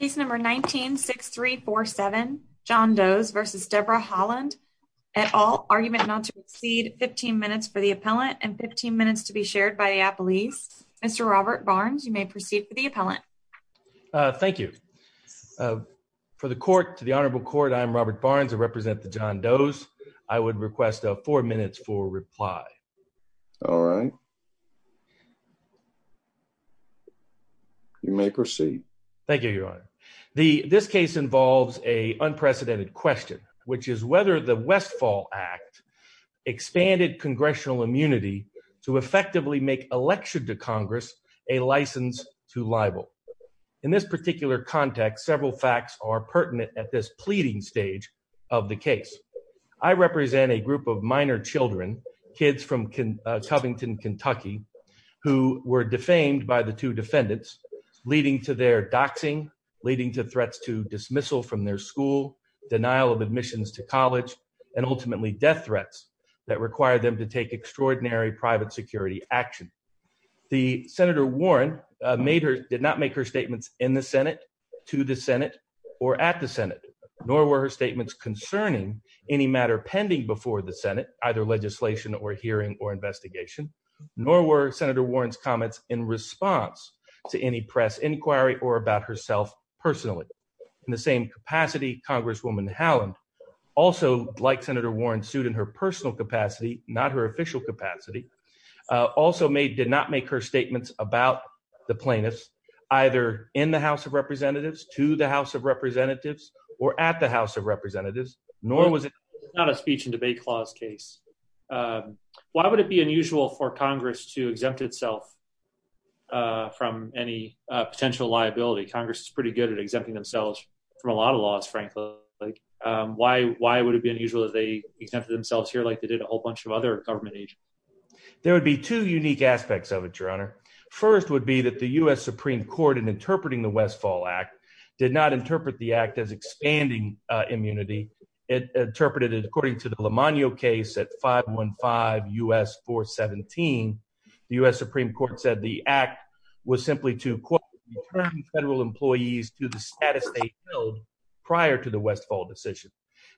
case number 19 6347 John Does v Deborah Haaland at all argument not to exceed 15 minutes for the appellant and 15 minutes to be shared by the appellees Mr. Robert Barnes you may proceed for the appellant uh thank you uh for the court to the honorable court I'm Robert Barnes I represent the John Does I would request a four minutes for reply all right you may proceed thank you your honor the this case involves a unprecedented question which is whether the westfall act expanded congressional immunity to effectively make election to congress a license to libel in this particular context several facts are pertinent at this pleading stage of the case I represent a group of minor children kids from Covington Kentucky who were defamed by the two defendants leading to their doxing leading to threats to dismissal from their school denial of admissions to college and ultimately death threats that require them to take extraordinary private security action the senator Warren made her did not make her statements in the senate to the senate or at the senate nor were her statements concerning any matter pending before the senate either legislation or hearing or investigation nor were senator Warren's comments in response to any press inquiry or about herself personally in the same capacity congresswoman Haaland also like senator Warren sued in her personal capacity not her official capacity also made did not make her statements about the plaintiffs either in the house of representatives to the house of representatives or at the house of representatives nor was it not a speech and debate clause case why would it be unusual for congress to exempt itself from any potential liability congress is pretty good at exempting themselves from a lot of laws frankly like why why would it be unusual that they exempted themselves here like they did a whole there would be two unique aspects of it your honor first would be that the u.s supreme court in interpreting the westfall act did not interpret the act as expanding uh immunity it interpreted according to the limonio case at 515 us 417 the u.s supreme court said the act was simply to quote federal employees to the status they held prior to the westfall decision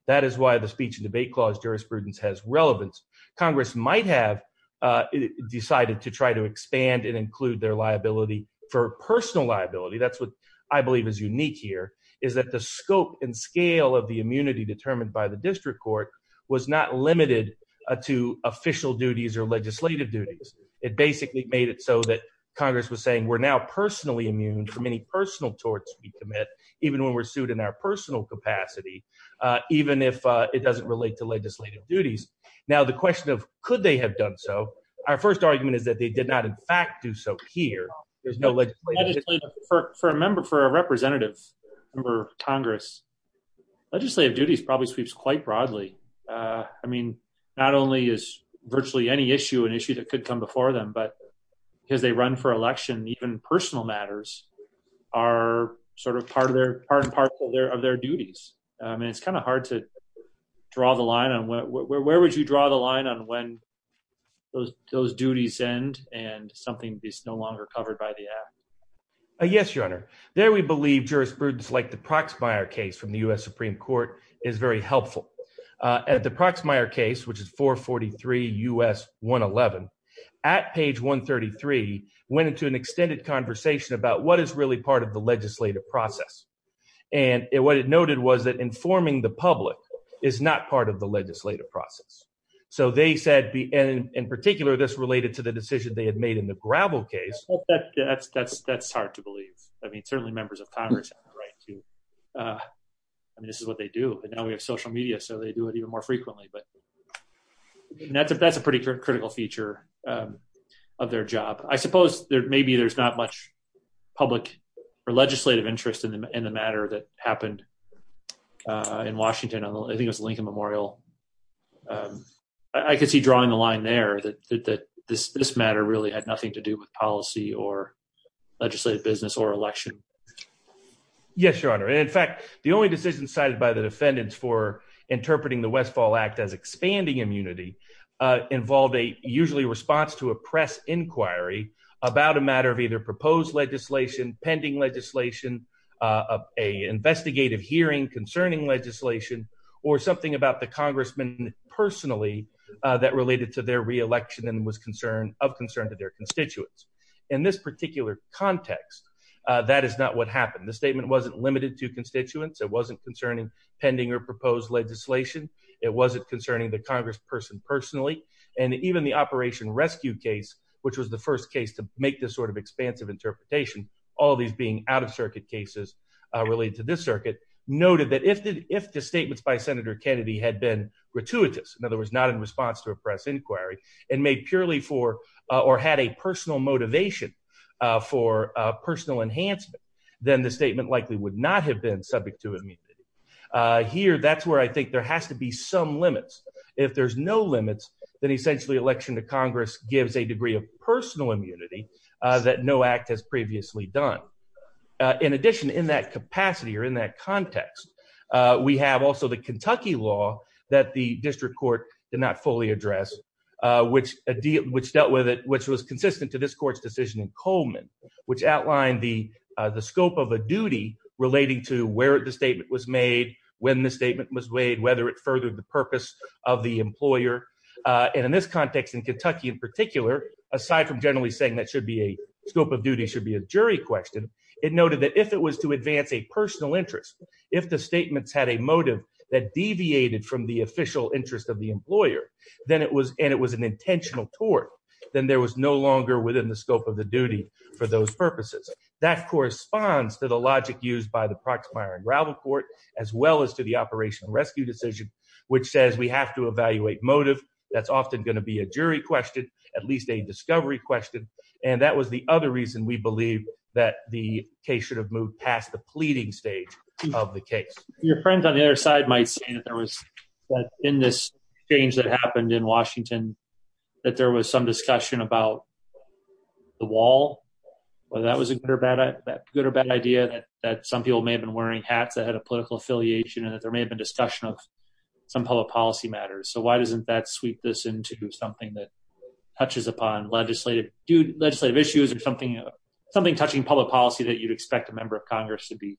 that is why the speech debate clause jurisprudence has relevance congress might have uh decided to try to expand and include their liability for personal liability that's what i believe is unique here is that the scope and scale of the immunity determined by the district court was not limited to official duties or legislative duties it basically made it so that congress was saying we're now personally immune from any personal torts we commit even when we're sued in our personal capacity uh even if uh it doesn't relate to legislative duties now the question of could they have done so our first argument is that they did not in fact do so here there's no legislative for a member for a representative member of congress legislative duties probably sweeps quite broadly uh i mean not only is virtually any issue an issue that could come before them but because they run for election even personal matters are sort of part of their part and parcel there of their duties i mean it's kind of hard to draw the line on what where would you draw the line on when those those duties end and something is no longer covered by the act uh yes your honor there we believe jurisprudence like the proxmire case from the u.s supreme court is very helpful uh at the proxmire case which is 443 us 111 at page 133 went into an extended conversation about what is really part of the legislative process and what it noted was that informing the public is not part of the legislative process so they said be and in particular this related to the decision they had made in the gravel case that's that's that's hard to believe i mean certainly members of congress have the right to uh i mean this is what they do and now we have social media so they do it even more frequently but that's that's a pretty critical feature um of their job i suppose there maybe there's not much public or legislative interest in the matter that happened uh in washington i think it was lincoln memorial um i could see drawing the line there that that this this matter really had nothing to do with policy or legislative business or election yes your honor and in fact the only decision cited by the usually response to a press inquiry about a matter of either proposed legislation pending legislation uh a investigative hearing concerning legislation or something about the congressman personally that related to their re-election and was concerned of concern to their constituents in this particular context uh that is not what happened the statement wasn't limited to constituents it wasn't concerning pending or proposed legislation it wasn't concerning the operation rescue case which was the first case to make this sort of expansive interpretation all these being out-of-circuit cases uh related to this circuit noted that if the if the statements by senator kennedy had been gratuitous in other words not in response to a press inquiry and made purely for or had a personal motivation uh for uh personal enhancement then the statement likely would not have been subject to immunity uh here that's where i think there has to be some limits if there's no limits then essentially election to congress gives a degree of personal immunity uh that no act has previously done uh in addition in that capacity or in that context uh we have also the kentucky law that the district court did not fully address uh which a deal which dealt with it which was consistent to this court's decision in coleman which outlined the uh the scope of a duty relating to where the statement was made when the statement was weighed whether it furthered the purpose of the employer uh and in this context in kentucky in particular aside from generally saying that should be a scope of duty should be a jury question it noted that if it was to advance a personal interest if the statements had a motive that deviated from the official interest of the employer then it was and it was an intentional tort then there was no longer within the scope of the duty for those purposes that corresponds to logic used by the proxmire and gravel court as well as to the operational rescue decision which says we have to evaluate motive that's often going to be a jury question at least a discovery question and that was the other reason we believe that the case should have moved past the pleading stage of the case your friend on the other side might say that there was in this change that happened in washington that there was some discussion about the wall whether that was a good or bad that good or bad idea that that some people may have been wearing hats that had a political affiliation and that there may have been discussion of some public policy matters so why doesn't that sweep this into something that touches upon legislative do legislative issues or something something touching public policy that you'd expect a member of congress to be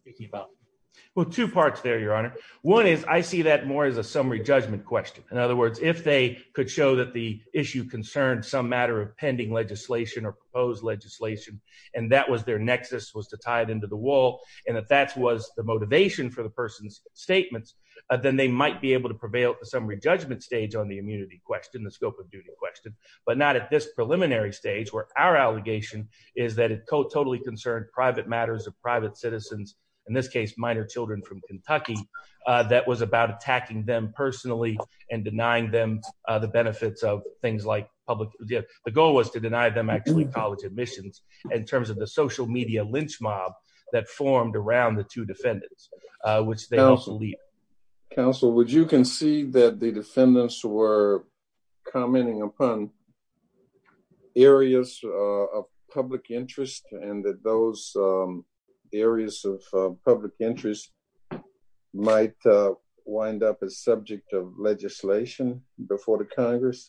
speaking about well two parts there your honor one is i see that more as a summary judgment question in other words if they could show that the issue concerned some matter of pending legislation or proposed legislation and that was their nexus was to tie it into the wall and if that was the motivation for the person's statements then they might be able to prevail at the summary judgment stage on the immunity question the scope of duty question but not at this preliminary stage where our allegation is that it totally concerned private matters of private citizens in this case minor children from kentucky uh that was about attacking them personally and denying them uh the benefits of things like public the goal was to deny them actually college admissions in terms of the social media lynch mob that formed around the two defendants uh which they also lead council would you concede that the defendants were commenting upon areas of public interest and that those areas of public interest might wind up as subject of legislation before the congress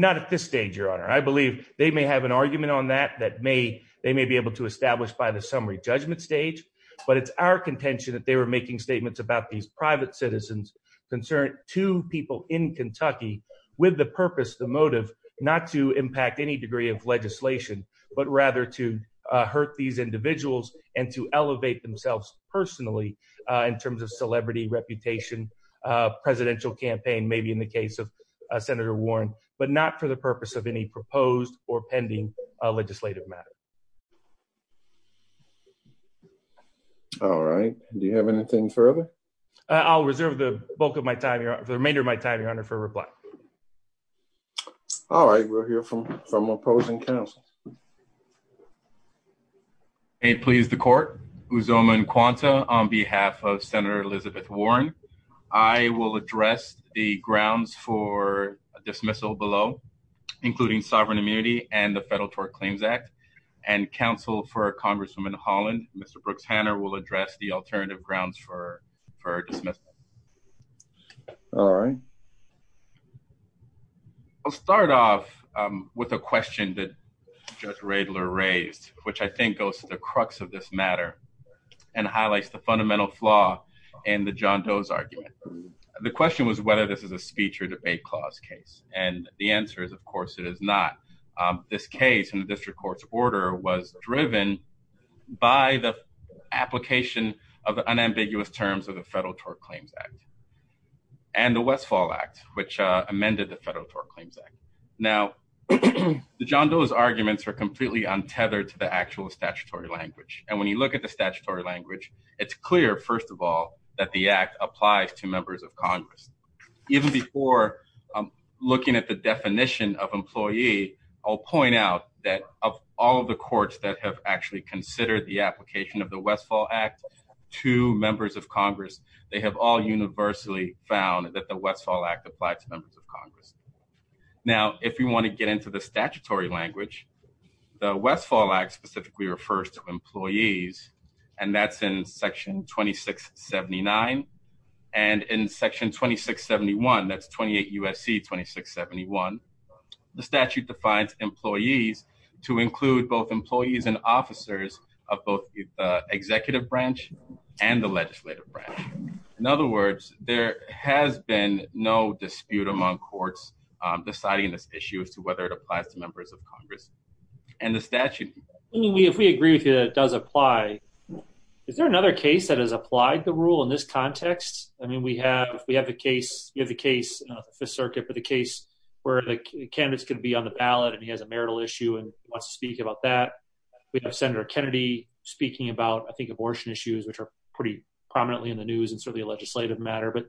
not at this stage your honor i believe they may have an argument on that that may they may be able to establish by the summary judgment stage but it's our contention that they were making statements about these private citizens concern to people in kentucky with the purpose the motive not to impact any degree of legislation but rather to hurt these individuals and to elevate themselves personally uh in terms of celebrity reputation uh presidential campaign maybe in the case of senator warren but not for the purpose of any proposed or pending legislative matter all right do you have anything further i'll reserve the bulk of my time here for the remainder of my time your honor for reply all right we'll hear from from opposing council may it please the court uzoma and quanta on behalf of senator elizabeth warren i will address the grounds for a dismissal below including sovereign immunity and the federal tort claims and counsel for congresswoman holland mr brooks hanner will address the alternative grounds for for dismissal all right i'll start off um with a question that judge radler raised which i think goes to the crux of this matter and highlights the fundamental flaw in the john doe's argument the question was whether this is a speech or debate clause case and the answer is of course it is not um this case in the district court's order was driven by the application of unambiguous terms of the federal tort claims act and the westfall act which uh amended the federal tort claims act now the john doe's arguments are completely untethered to the actual statutory language and when you look at the statutory language it's clear first of all that the act applies to members of congress even before looking at the definition of employee i'll point out that of all of the courts that have actually considered the application of the westfall act to members of congress they have all universally found that the westfall act applied to members of congress now if you want to get into the statutory language the westfall act specifically refers to employees and that's in section 2679 and in section 2671 that's 28 usc 2671 the statute defines employees to include both employees and officers of both the executive branch and the legislative branch in other words there has been no dispute among courts deciding this issue as to whether it applies to members of congress and the statute i mean we agree with you that it does apply is there another case that has applied the rule in this context i mean we have we have the case you have the case fifth circuit but the case where the candidate's going to be on the ballot and he has a marital issue and wants to speak about that we have senator kennedy speaking about i think abortion issues which are pretty prominently in the news and certainly a legislative matter but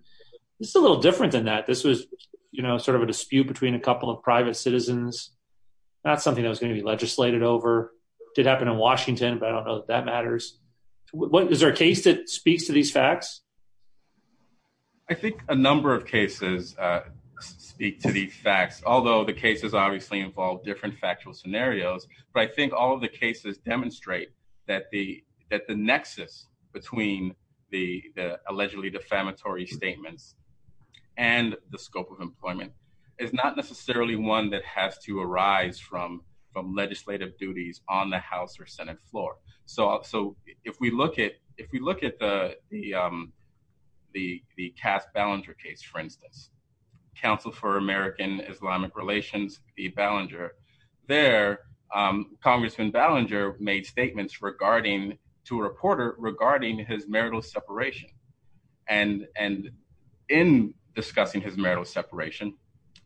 it's a little different than that this was you know sort of a dispute between a couple of private citizens not something that was going to be over did happen in washington but i don't know that that matters what is there a case that speaks to these facts i think a number of cases uh speak to these facts although the cases obviously involve different factual scenarios but i think all of the cases demonstrate that the that the nexus between the the allegedly defamatory statements and the scope of employment is not necessarily one that has to arise from from legislative duties on the house or senate floor so so if we look at if we look at the the um the the cast ballinger case for instance council for american islamic relations the ballinger there um congressman ballinger made statements regarding to a reporter regarding his marital separation and and in discussing his marital separation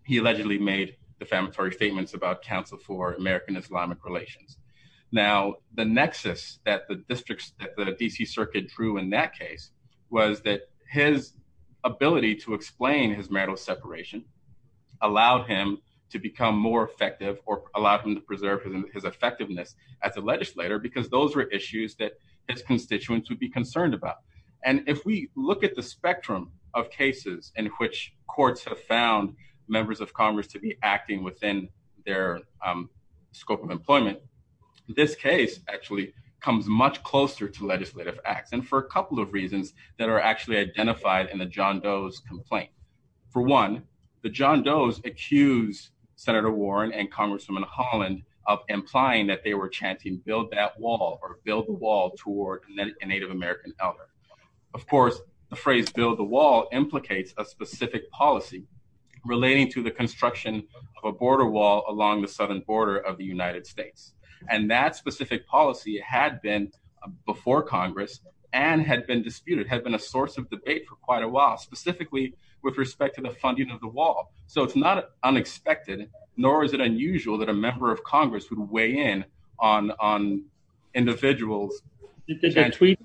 he allegedly made defamatory statements about council for american islamic relations now the nexus that the districts that the dc circuit drew in that case was that his ability to explain his marital separation allowed him to become more effective or allowed him to preserve his effectiveness as a legislator because those were issues that his constituents would be have found members of congress to be acting within their um scope of employment this case actually comes much closer to legislative acts and for a couple of reasons that are actually identified in the john does complaint for one the john does accuse senator warren and congresswoman holland of implying that they were chanting build that wall or build the wall toward a native american of course the phrase build the wall implicates a specific policy relating to the construction of a border wall along the southern border of the united states and that specific policy had been before congress and had been disputed had been a source of debate for quite a while specifically with respect to the funding of the wall so it's not unexpected nor is it unusual that a member of congress would weigh in on on individuals did the tweet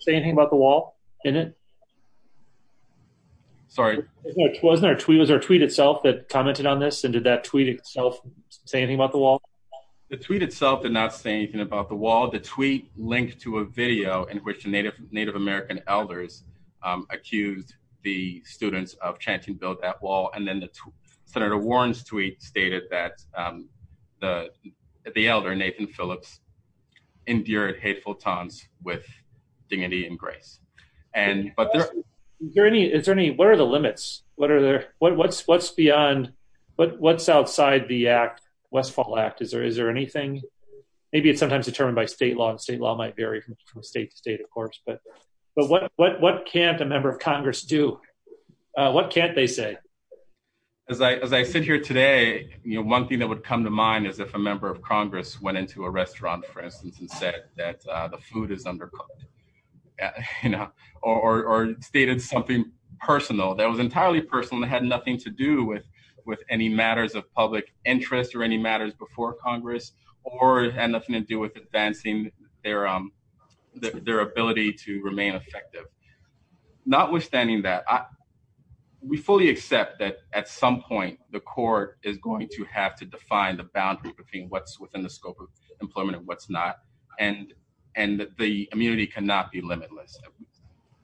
say anything about the wall in it sorry it wasn't our tweet was our tweet itself that commented on this and did that tweet itself say anything about the wall the tweet itself did not say anything about the wall the tweet linked to a video in which the native native american elders accused the students of chanting build that wall and then the senator warren's tweet stated that um the the elder nathan phillips endured hateful times with dignity and grace and but there any is there any what are the limits what are their what what's what's beyond what what's outside the act westfall act is there is there anything maybe it's sometimes determined by state law and state law might vary from state to do uh what can't they say as i as i sit here today you know one thing that would come to mind is if a member of congress went into a restaurant for instance and said that uh the food is undercooked you know or or stated something personal that was entirely personal that had nothing to do with with any matters of public interest or any matters before congress or had nothing to do with advancing their um their ability to remain effective notwithstanding that i we fully accept that at some point the court is going to have to define the boundary between what's within the scope of employment and what's not and and the immunity cannot be limitless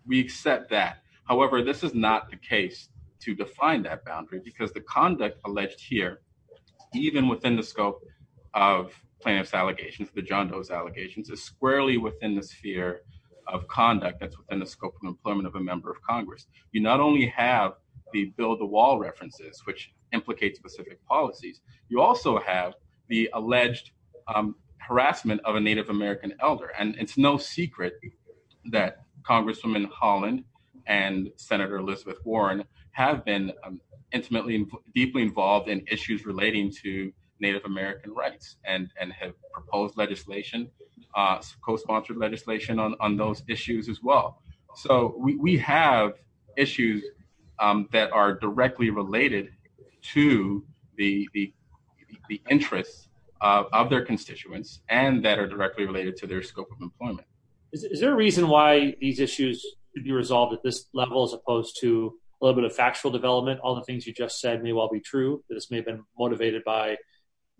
we accept that however this is not the case to define that plaintiff's allegations the john does allegations is squarely within the sphere of conduct that's within the scope of employment of a member of congress you not only have the build the wall references which implicate specific policies you also have the alleged harassment of a native american elder and it's no secret that congresswoman holland and senator elizabeth warren have been intimately deeply involved in issues relating to native american rights and and have proposed legislation uh co-sponsored legislation on on those issues as well so we we have issues um that are directly related to the the the interests of their constituents and that are directly related to their scope of employment is there a reason why these issues could be resolved at this level as opposed to a little bit of factual development all the things you just said may well be true that this may have been motivated by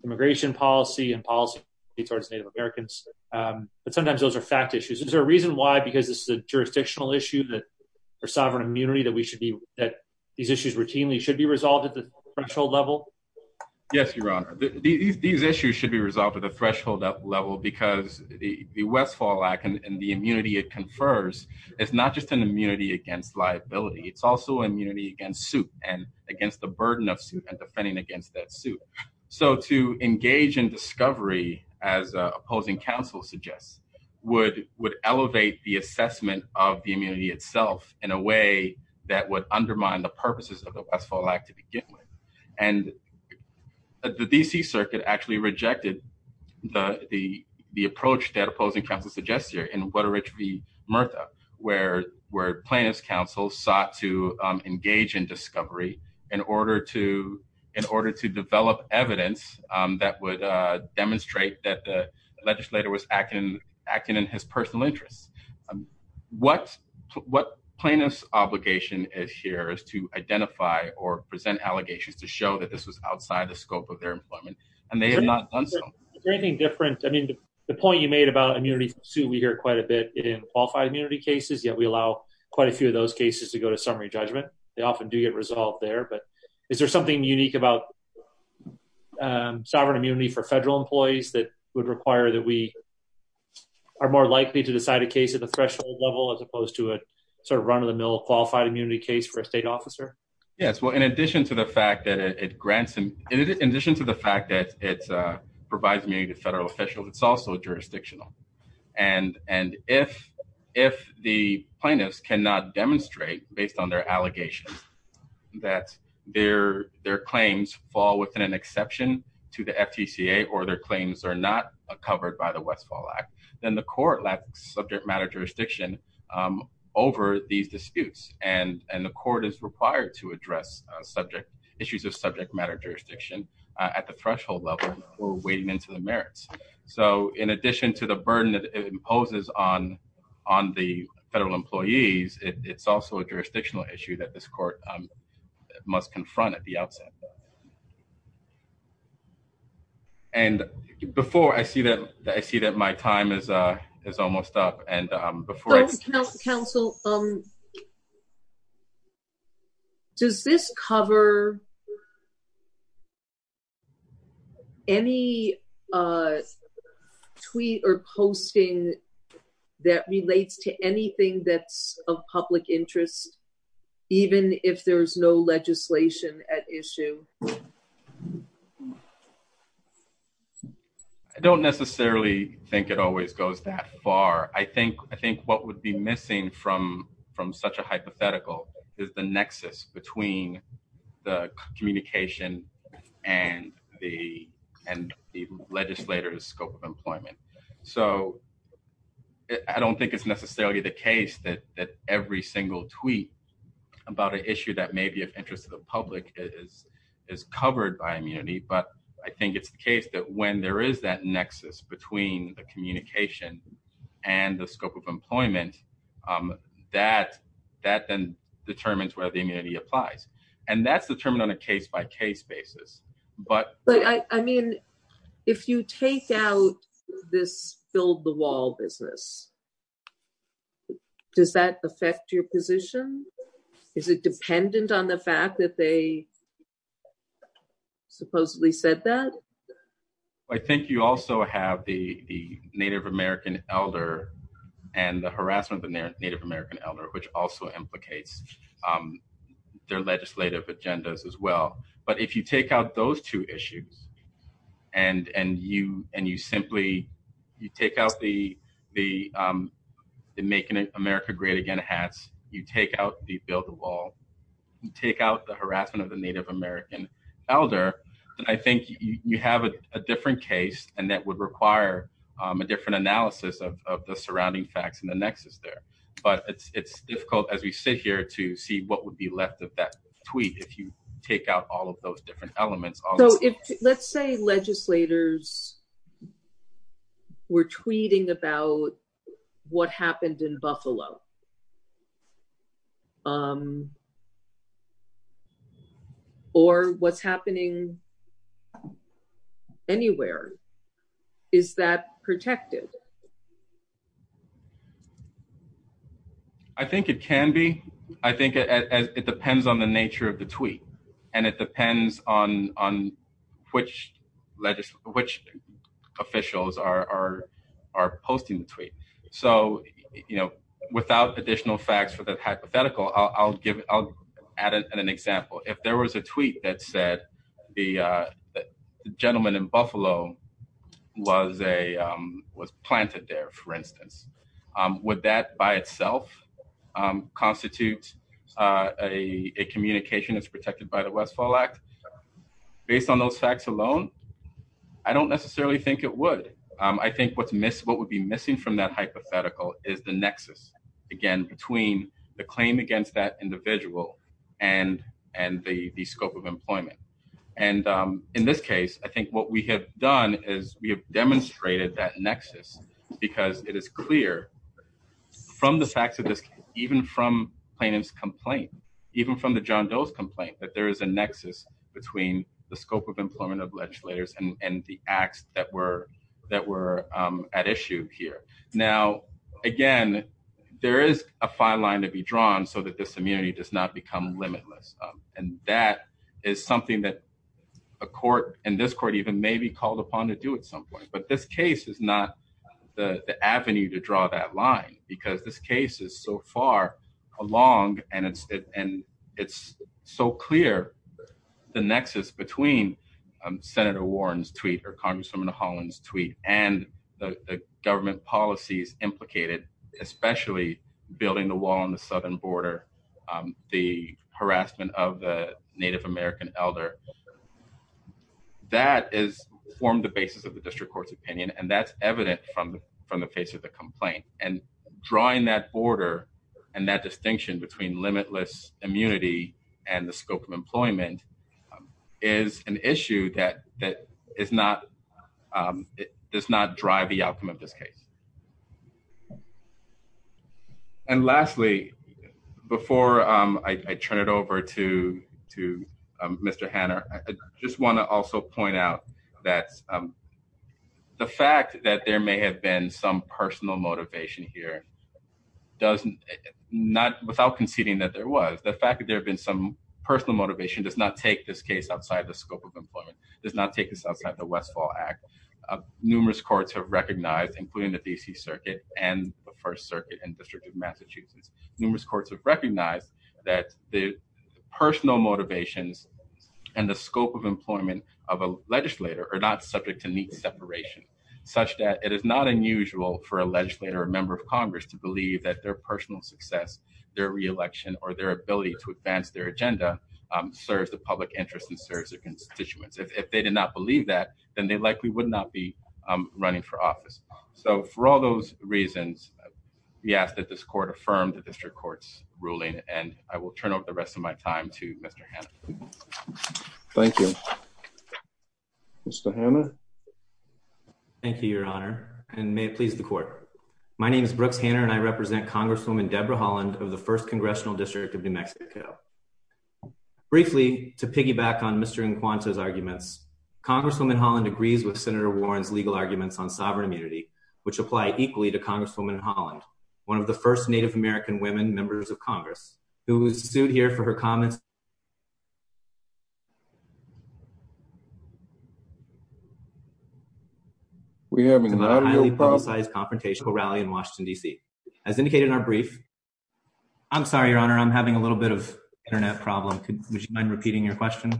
immigration policy and policy towards native americans but sometimes those are fact issues is there a reason why because this is a jurisdictional issue that for sovereign immunity that we should be that these issues routinely should be resolved at the threshold level yes your honor these issues should be resolved at the threshold level because the westfall act and the immunity it confers it's not just an immunity against liability it's also immunity against suit and against the burden of suit and defending against that suit so to engage in discovery as opposing counsel suggests would would elevate the assessment of the immunity itself in a way that would undermine the purposes of the westfall act to begin with and the dc circuit actually rejected the the the approach that opposing counsel suggests here in what a rich v myrtha where where plaintiff's counsel sought to engage in discovery in order to in order to develop evidence um that would uh demonstrate that the legislator was acting acting in his personal interests what what plaintiff's obligation is here is to identify or present allegations to show that this was outside the scope of their employment and they have not done something anything different i mean the point you made about immunity sue we hear quite a bit in qualified immunity cases yet we allow quite a few of those cases to go to summary judgment they often do get resolved there but is there something unique about um sovereign immunity for federal employees that would require that we are more likely to decide a case at the threshold level as opposed to a sort of run-of-the-mill qualified immunity case for a state officer yes well in addition to the fact that it grants and in addition to fact that it provides me to federal officials it's also jurisdictional and and if if the plaintiffs cannot demonstrate based on their allegations that their their claims fall within an exception to the ftca or their claims are not covered by the westfall act then the court lacks subject matter jurisdiction um over these disputes and and the court is required to address subject issues of subject matter jurisdiction at the threshold level or wading into the merits so in addition to the burden that it imposes on on the federal employees it's also a jurisdictional issue that this court must confront at the outset and before i see that i see that my time is uh is almost up and um before council um does this cover any uh tweet or posting that relates to anything that's of public interest even if there's no legislation at issue i don't necessarily think it always goes that far i think i think what would be missing from from such a hypothetical is the nexus between the communication and the and the legislator's scope of employment so i don't think it's necessarily the case that that every single tweet about an issue that may be of interest to the public is is covered by immunity but i think it's the case that when there is that nexus between the communication and the scope of employment um that that then determines whether the immunity applies and that's determined on a case-by-case basis but but i i mean if you take out this fill the wall business does that affect your position is it dependent on the fact that they supposedly said that i think you also have the the native american elder and the harassment of the native american elder which also implicates um their legislative agendas as well but if you in making america great again hats you take out the build the wall you take out the harassment of the native american elder i think you have a different case and that would require a different analysis of the surrounding facts and the nexus there but it's it's difficult as we sit here to see what would be left of that tweet if you take out all of those different elements so if let's say legislators were tweeting about what happened in buffalo um or what's happening anywhere is that protected i think it can be i think it as it depends on the nature of the tweet and it depends on on which legislation which officials are are are posting the tweet so you know without additional facts for the hypothetical i'll give i'll add an example if there was a tweet that said the uh gentleman in buffalo was a was planted there for instance would that by itself constitute a a communication that's protected by the westfall act based on those facts alone i don't necessarily think it would i think what's missed what would be missing from that hypothetical is the nexus again between the claim against that individual and and the the scope of we have done is we have demonstrated that nexus because it is clear from the facts of this even from plaintiff's complaint even from the john doe's complaint that there is a nexus between the scope of employment of legislators and and the acts that were that were at issue here now again there is a fine line to be drawn so that this immunity does not become limitless and that is something that a court and this court even may be called upon to do at some point but this case is not the the avenue to draw that line because this case is so far along and it's it and it's so clear the nexus between senator warren's tweet or congresswoman holland's tweet and the government policies implicated especially building the wall on the southern border the harassment of the native american elder that is formed the basis of the district court's opinion and that's evident from from the face of the complaint and drawing that border and that distinction between limitless immunity and the scope of employment is an issue that that is not um it does not drive the outcome of this case and lastly before um i turn it over to to um mr hanner i just want to also point out that the fact that there may have been some personal motivation here doesn't not without conceding that there was the fact that there have been some personal motivation does not take this case outside the scope of employment does not take this outside the westfall act numerous courts have recognized including the dc circuit and the first circuit and district of massachusetts numerous courts have recognized that the personal motivations and the scope of employment of a legislator are not subject to neat separation such that it is not unusual for a legislator a member of congress to believe that their personal success their re-election or their serves their constituents if they did not believe that then they likely would not be um running for office so for all those reasons we ask that this court affirm the district court's ruling and i will turn over the rest of my time to mr hannah thank you mr hannah thank you your honor and may it please the court my name is brooks hanner and i represent congresswoman deborah holland of the first congressional district of new mexico briefly to piggyback on mr and quanta's arguments congresswoman holland agrees with senator warren's legal arguments on sovereign immunity which apply equally to congresswoman holland one of the first native american women members of congress who was sued here for her comments we have a highly politicized confrontational rally in washington dc as indicated in our brief i'm sorry your honor i'm having a little bit of internet problem would you mind repeating your question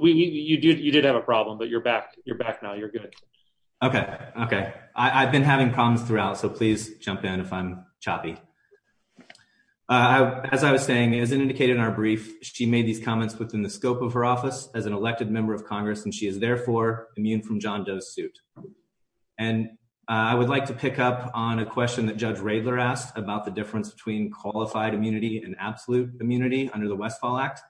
we you did you did have a problem but you're back you're back now you're good okay okay i i've been having problems throughout so please jump in if i'm choppy uh as i was saying as indicated in our brief she made these comments within the scope of her office as an elected member of congress and she is therefore immune from john doe's suit and i would like to pick up on a about the difference between qualified immunity and absolute immunity under the westfall act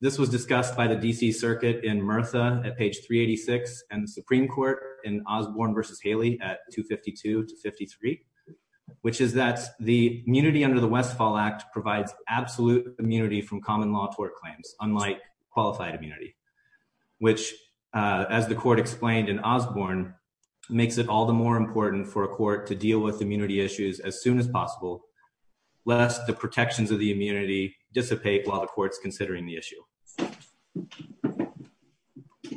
this was discussed by the dc circuit in mirtha at page 386 and the supreme court in osborne versus haley at 252 to 53 which is that the immunity under the westfall act provides absolute immunity from common law tort claims unlike qualified immunity which as the court explained in osborne makes it all the more important for a court to deal with immunity issues as soon as possible lest the protections of the immunity dissipate while the court's considering the issue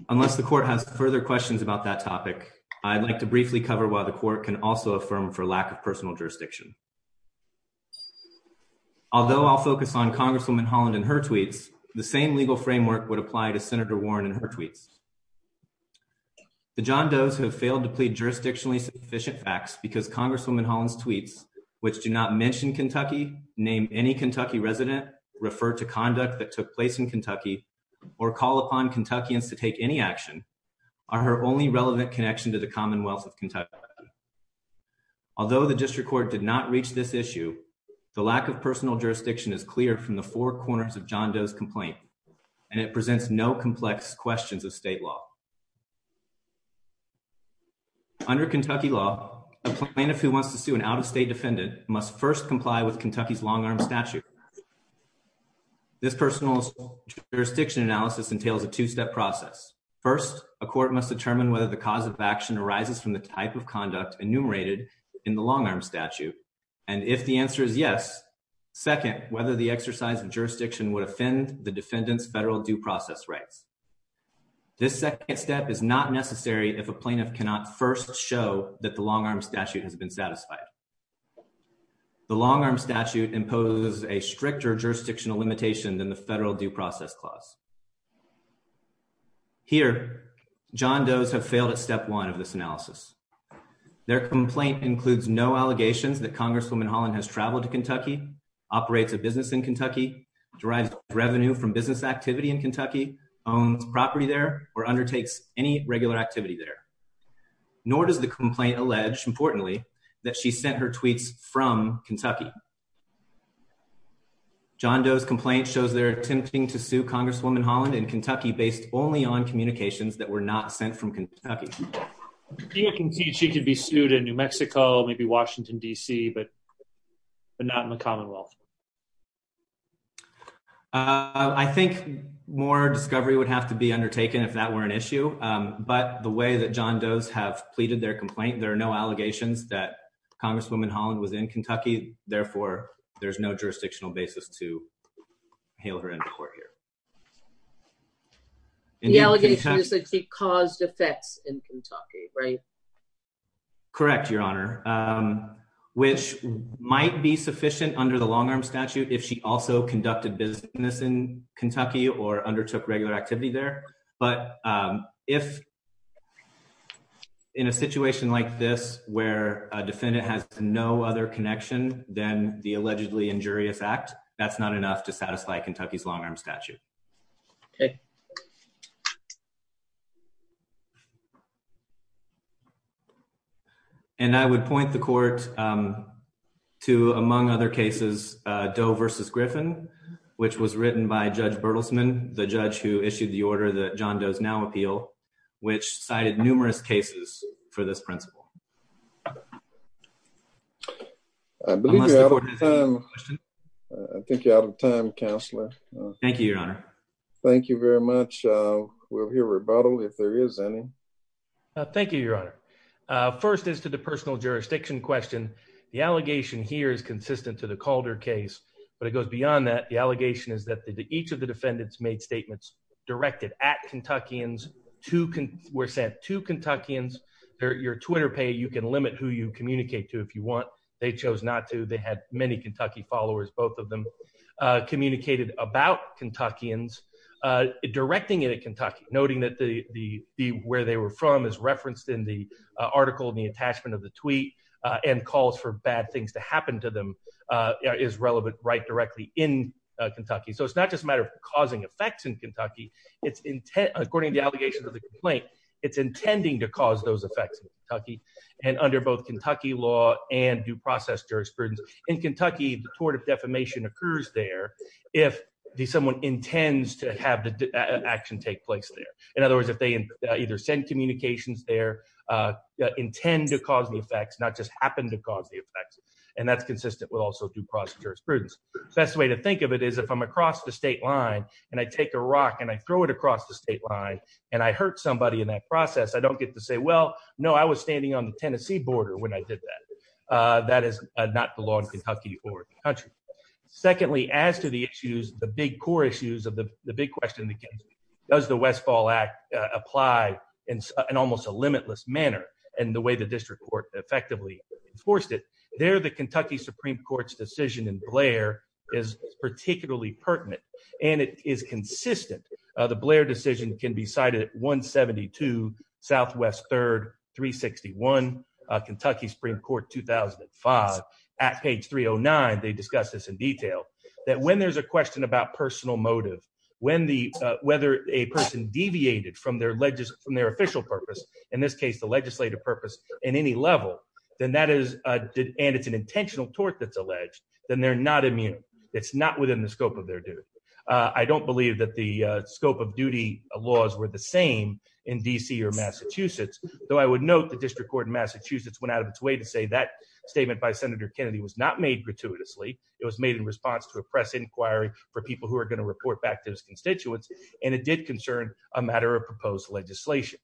unless the court has further questions about that topic i'd like to briefly cover why the court can also affirm for lack of personal jurisdiction although i'll focus on congresswoman holland and her tweets the same legal framework would apply to senator warren and her tweets the john does have failed to plead jurisdictionally sufficient facts because congresswoman holland's tweets which do not mention kentucky name any kentucky resident refer to conduct that took place in kentucky or call upon kentuckians to take any action are her only relevant connection to the commonwealth of kentucky although the district court did not reach this issue the lack of it presents no complex questions of state law under kentucky law a plaintiff who wants to sue an out-of-state defendant must first comply with kentucky's long-arm statute this personal jurisdiction analysis entails a two-step process first a court must determine whether the cause of action arises from the type of conduct enumerated in the long-arm statute and if the answer is yes second whether the exercise of rights this second step is not necessary if a plaintiff cannot first show that the long-arm statute has been satisfied the long-arm statute imposes a stricter jurisdictional limitation than the federal due process clause here john does have failed at step one of this analysis their complaint includes no allegations that congresswoman holland has traveled to kentucky operates a business in kentucky drives revenue from business activity in kentucky owns property there or undertakes any regular activity there nor does the complaint allege importantly that she sent her tweets from kentucky john doe's complaint shows they're attempting to sue congresswoman holland in kentucky based only on communications that were not sent from kentucky you can see she could be sued in new wealth uh i think more discovery would have to be undertaken if that were an issue um but the way that john does have pleaded their complaint there are no allegations that congresswoman holland was in kentucky therefore there's no jurisdictional basis to hail her into court here the allegations that she caused effects in kentucky right correct your honor um might be sufficient under the long-arm statute if she also conducted business in kentucky or undertook regular activity there but um if in a situation like this where a defendant has no other connection than the allegedly injurious act that's not enough to satisfy to among other cases uh doe versus griffin which was written by judge bertelsman the judge who issued the order that john does now appeal which cited numerous cases for this principle i think you're out of time counselor thank you your honor thank you very much uh we'll hear rebuttal if there is any uh thank you your honor uh first is to the personal jurisdiction question the allegation here is consistent to the calder case but it goes beyond that the allegation is that each of the defendants made statements directed at kentuckians to can we're sent to kentuckians your twitter pay you can limit who you communicate to if you want they chose not to they had many kentucky followers both of them uh communicated about kentuckians uh directing it at kentucky noting that the the where they were from is referenced in the article in the attachment of the tweet uh and calls for bad things to happen to them uh is relevant right directly in kentucky so it's not just a matter of causing effects in kentucky it's intent according to the allegations of the complaint it's intending to cause those effects in kentucky and under both kentucky law and due process jurisprudence in kentucky the tort of defamation occurs there if someone intends to have the action take place in other words if they either send communications there uh intend to cause the effects not just happen to cause the effects and that's consistent with also due process jurisprudence best way to think of it is if i'm across the state line and i take a rock and i throw it across the state line and i hurt somebody in that process i don't get to say well no i was standing on the tennessee border when i did that uh that is not the law in kentucky or country secondly as to the issues the big core issues of the big question that does the westfall act apply in almost a limitless manner and the way the district court effectively enforced it there the kentucky supreme court's decision in blair is particularly pertinent and it is consistent uh the blair decision can be cited 172 southwest third 361 uh kentucky supreme court 2005 at page 309 they discuss this in about personal motive when the uh whether a person deviated from their legis from their official purpose in this case the legislative purpose in any level then that is uh and it's an intentional tort that's alleged then they're not immune it's not within the scope of their duty uh i don't believe that the uh scope of duty laws were the same in dc or massachusetts though i would note the district court in massachusetts went out of its way to say that statement by senator kennedy was not made gratuitously it was made in response to a who are going to report back to his constituents and it did concern a matter of proposed legislation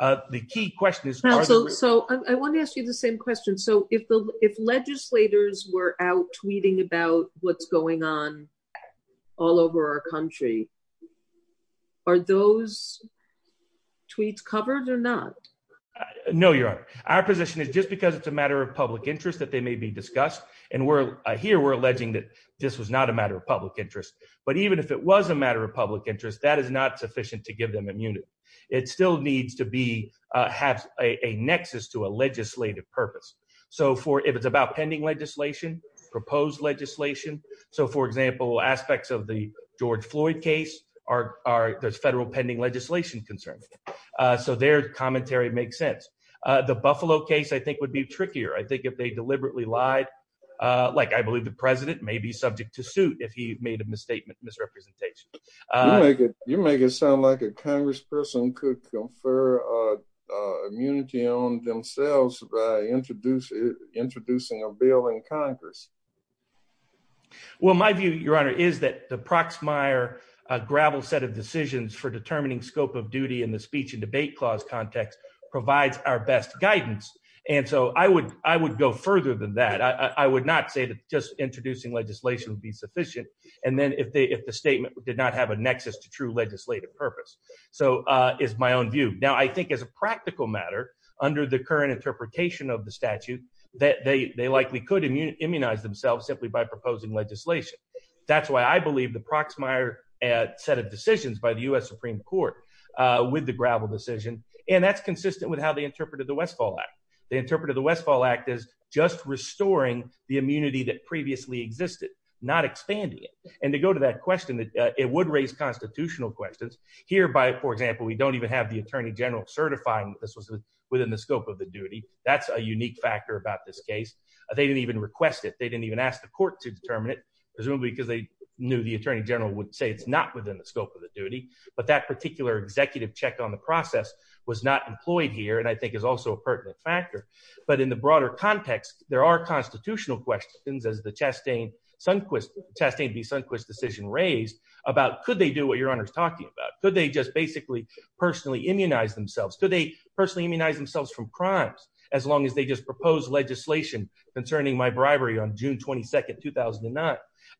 uh the key question is so i want to ask you the same question so if the if legislators were out tweeting about what's going on all over our country are those tweets covered or not no your honor our position is just because it's a matter of public interest that they may be but even if it was a matter of public interest that is not sufficient to give them immunity it still needs to be uh have a nexus to a legislative purpose so for if it's about pending legislation proposed legislation so for example aspects of the george floyd case are are there's federal pending legislation concerns uh so their commentary makes sense uh the buffalo case i think would be trickier i think if they deliberately lied uh like i believe the president may be misrepresentation uh you make it you make it sound like a congressperson could confer uh immunity on themselves by introducing introducing a bill in congress well my view your honor is that the proxmire gravel set of decisions for determining scope of duty in the speech and debate clause context provides our best guidance and so i would i would go further than that i i would not say that just introducing legislation would be sufficient and then if they if the statement did not have a nexus to true legislative purpose so uh is my own view now i think as a practical matter under the current interpretation of the statute that they they likely could immunize themselves simply by proposing legislation that's why i believe the proxmire uh set of decisions by the u.s supreme court uh with the gravel decision and that's consistent with how they interpreted the westfall act they interpreted the westfall act as just restoring the immunity that previously existed not expanding it and to go to that question that it would raise constitutional questions here by for example we don't even have the attorney general certifying this was within the scope of the duty that's a unique factor about this case they didn't even request it they didn't even ask the court to determine it presumably because they knew the attorney general would say it's not within the scope of the duty but that particular executive check on the process was not employed here and i think is also a pertinent factor but in the broader context there are constitutional questions as the chastain sunquist chastain v sunquist decision raised about could they do what your honor is talking about could they just basically personally immunize themselves could they personally immunize themselves from crimes as long as they just propose legislation concerning my bribery on june 22nd 2009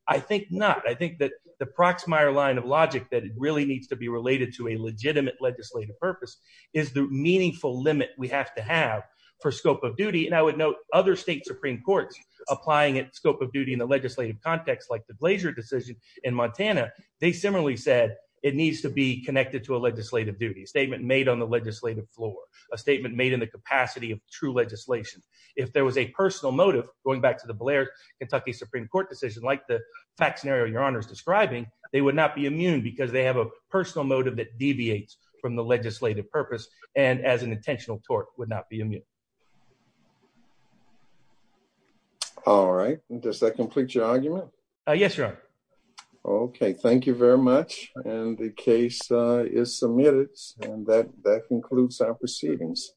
i think not i think that the proxmire line of logic that it really to a legitimate legislative purpose is the meaningful limit we have to have for scope of duty and i would note other state supreme courts applying it scope of duty in the legislative context like the blazer decision in montana they similarly said it needs to be connected to a legislative duty statement made on the legislative floor a statement made in the capacity of true legislation if there was a personal motive going back to the blair kentucky supreme court decision like the fact scenario your honor is describing they would not be immune because they have a personal motive that deviates from the legislative purpose and as an intentional tort would not be immune all right does that complete your argument uh yes your honor okay thank you very much and the case uh is submitted and that that concludes our proceedings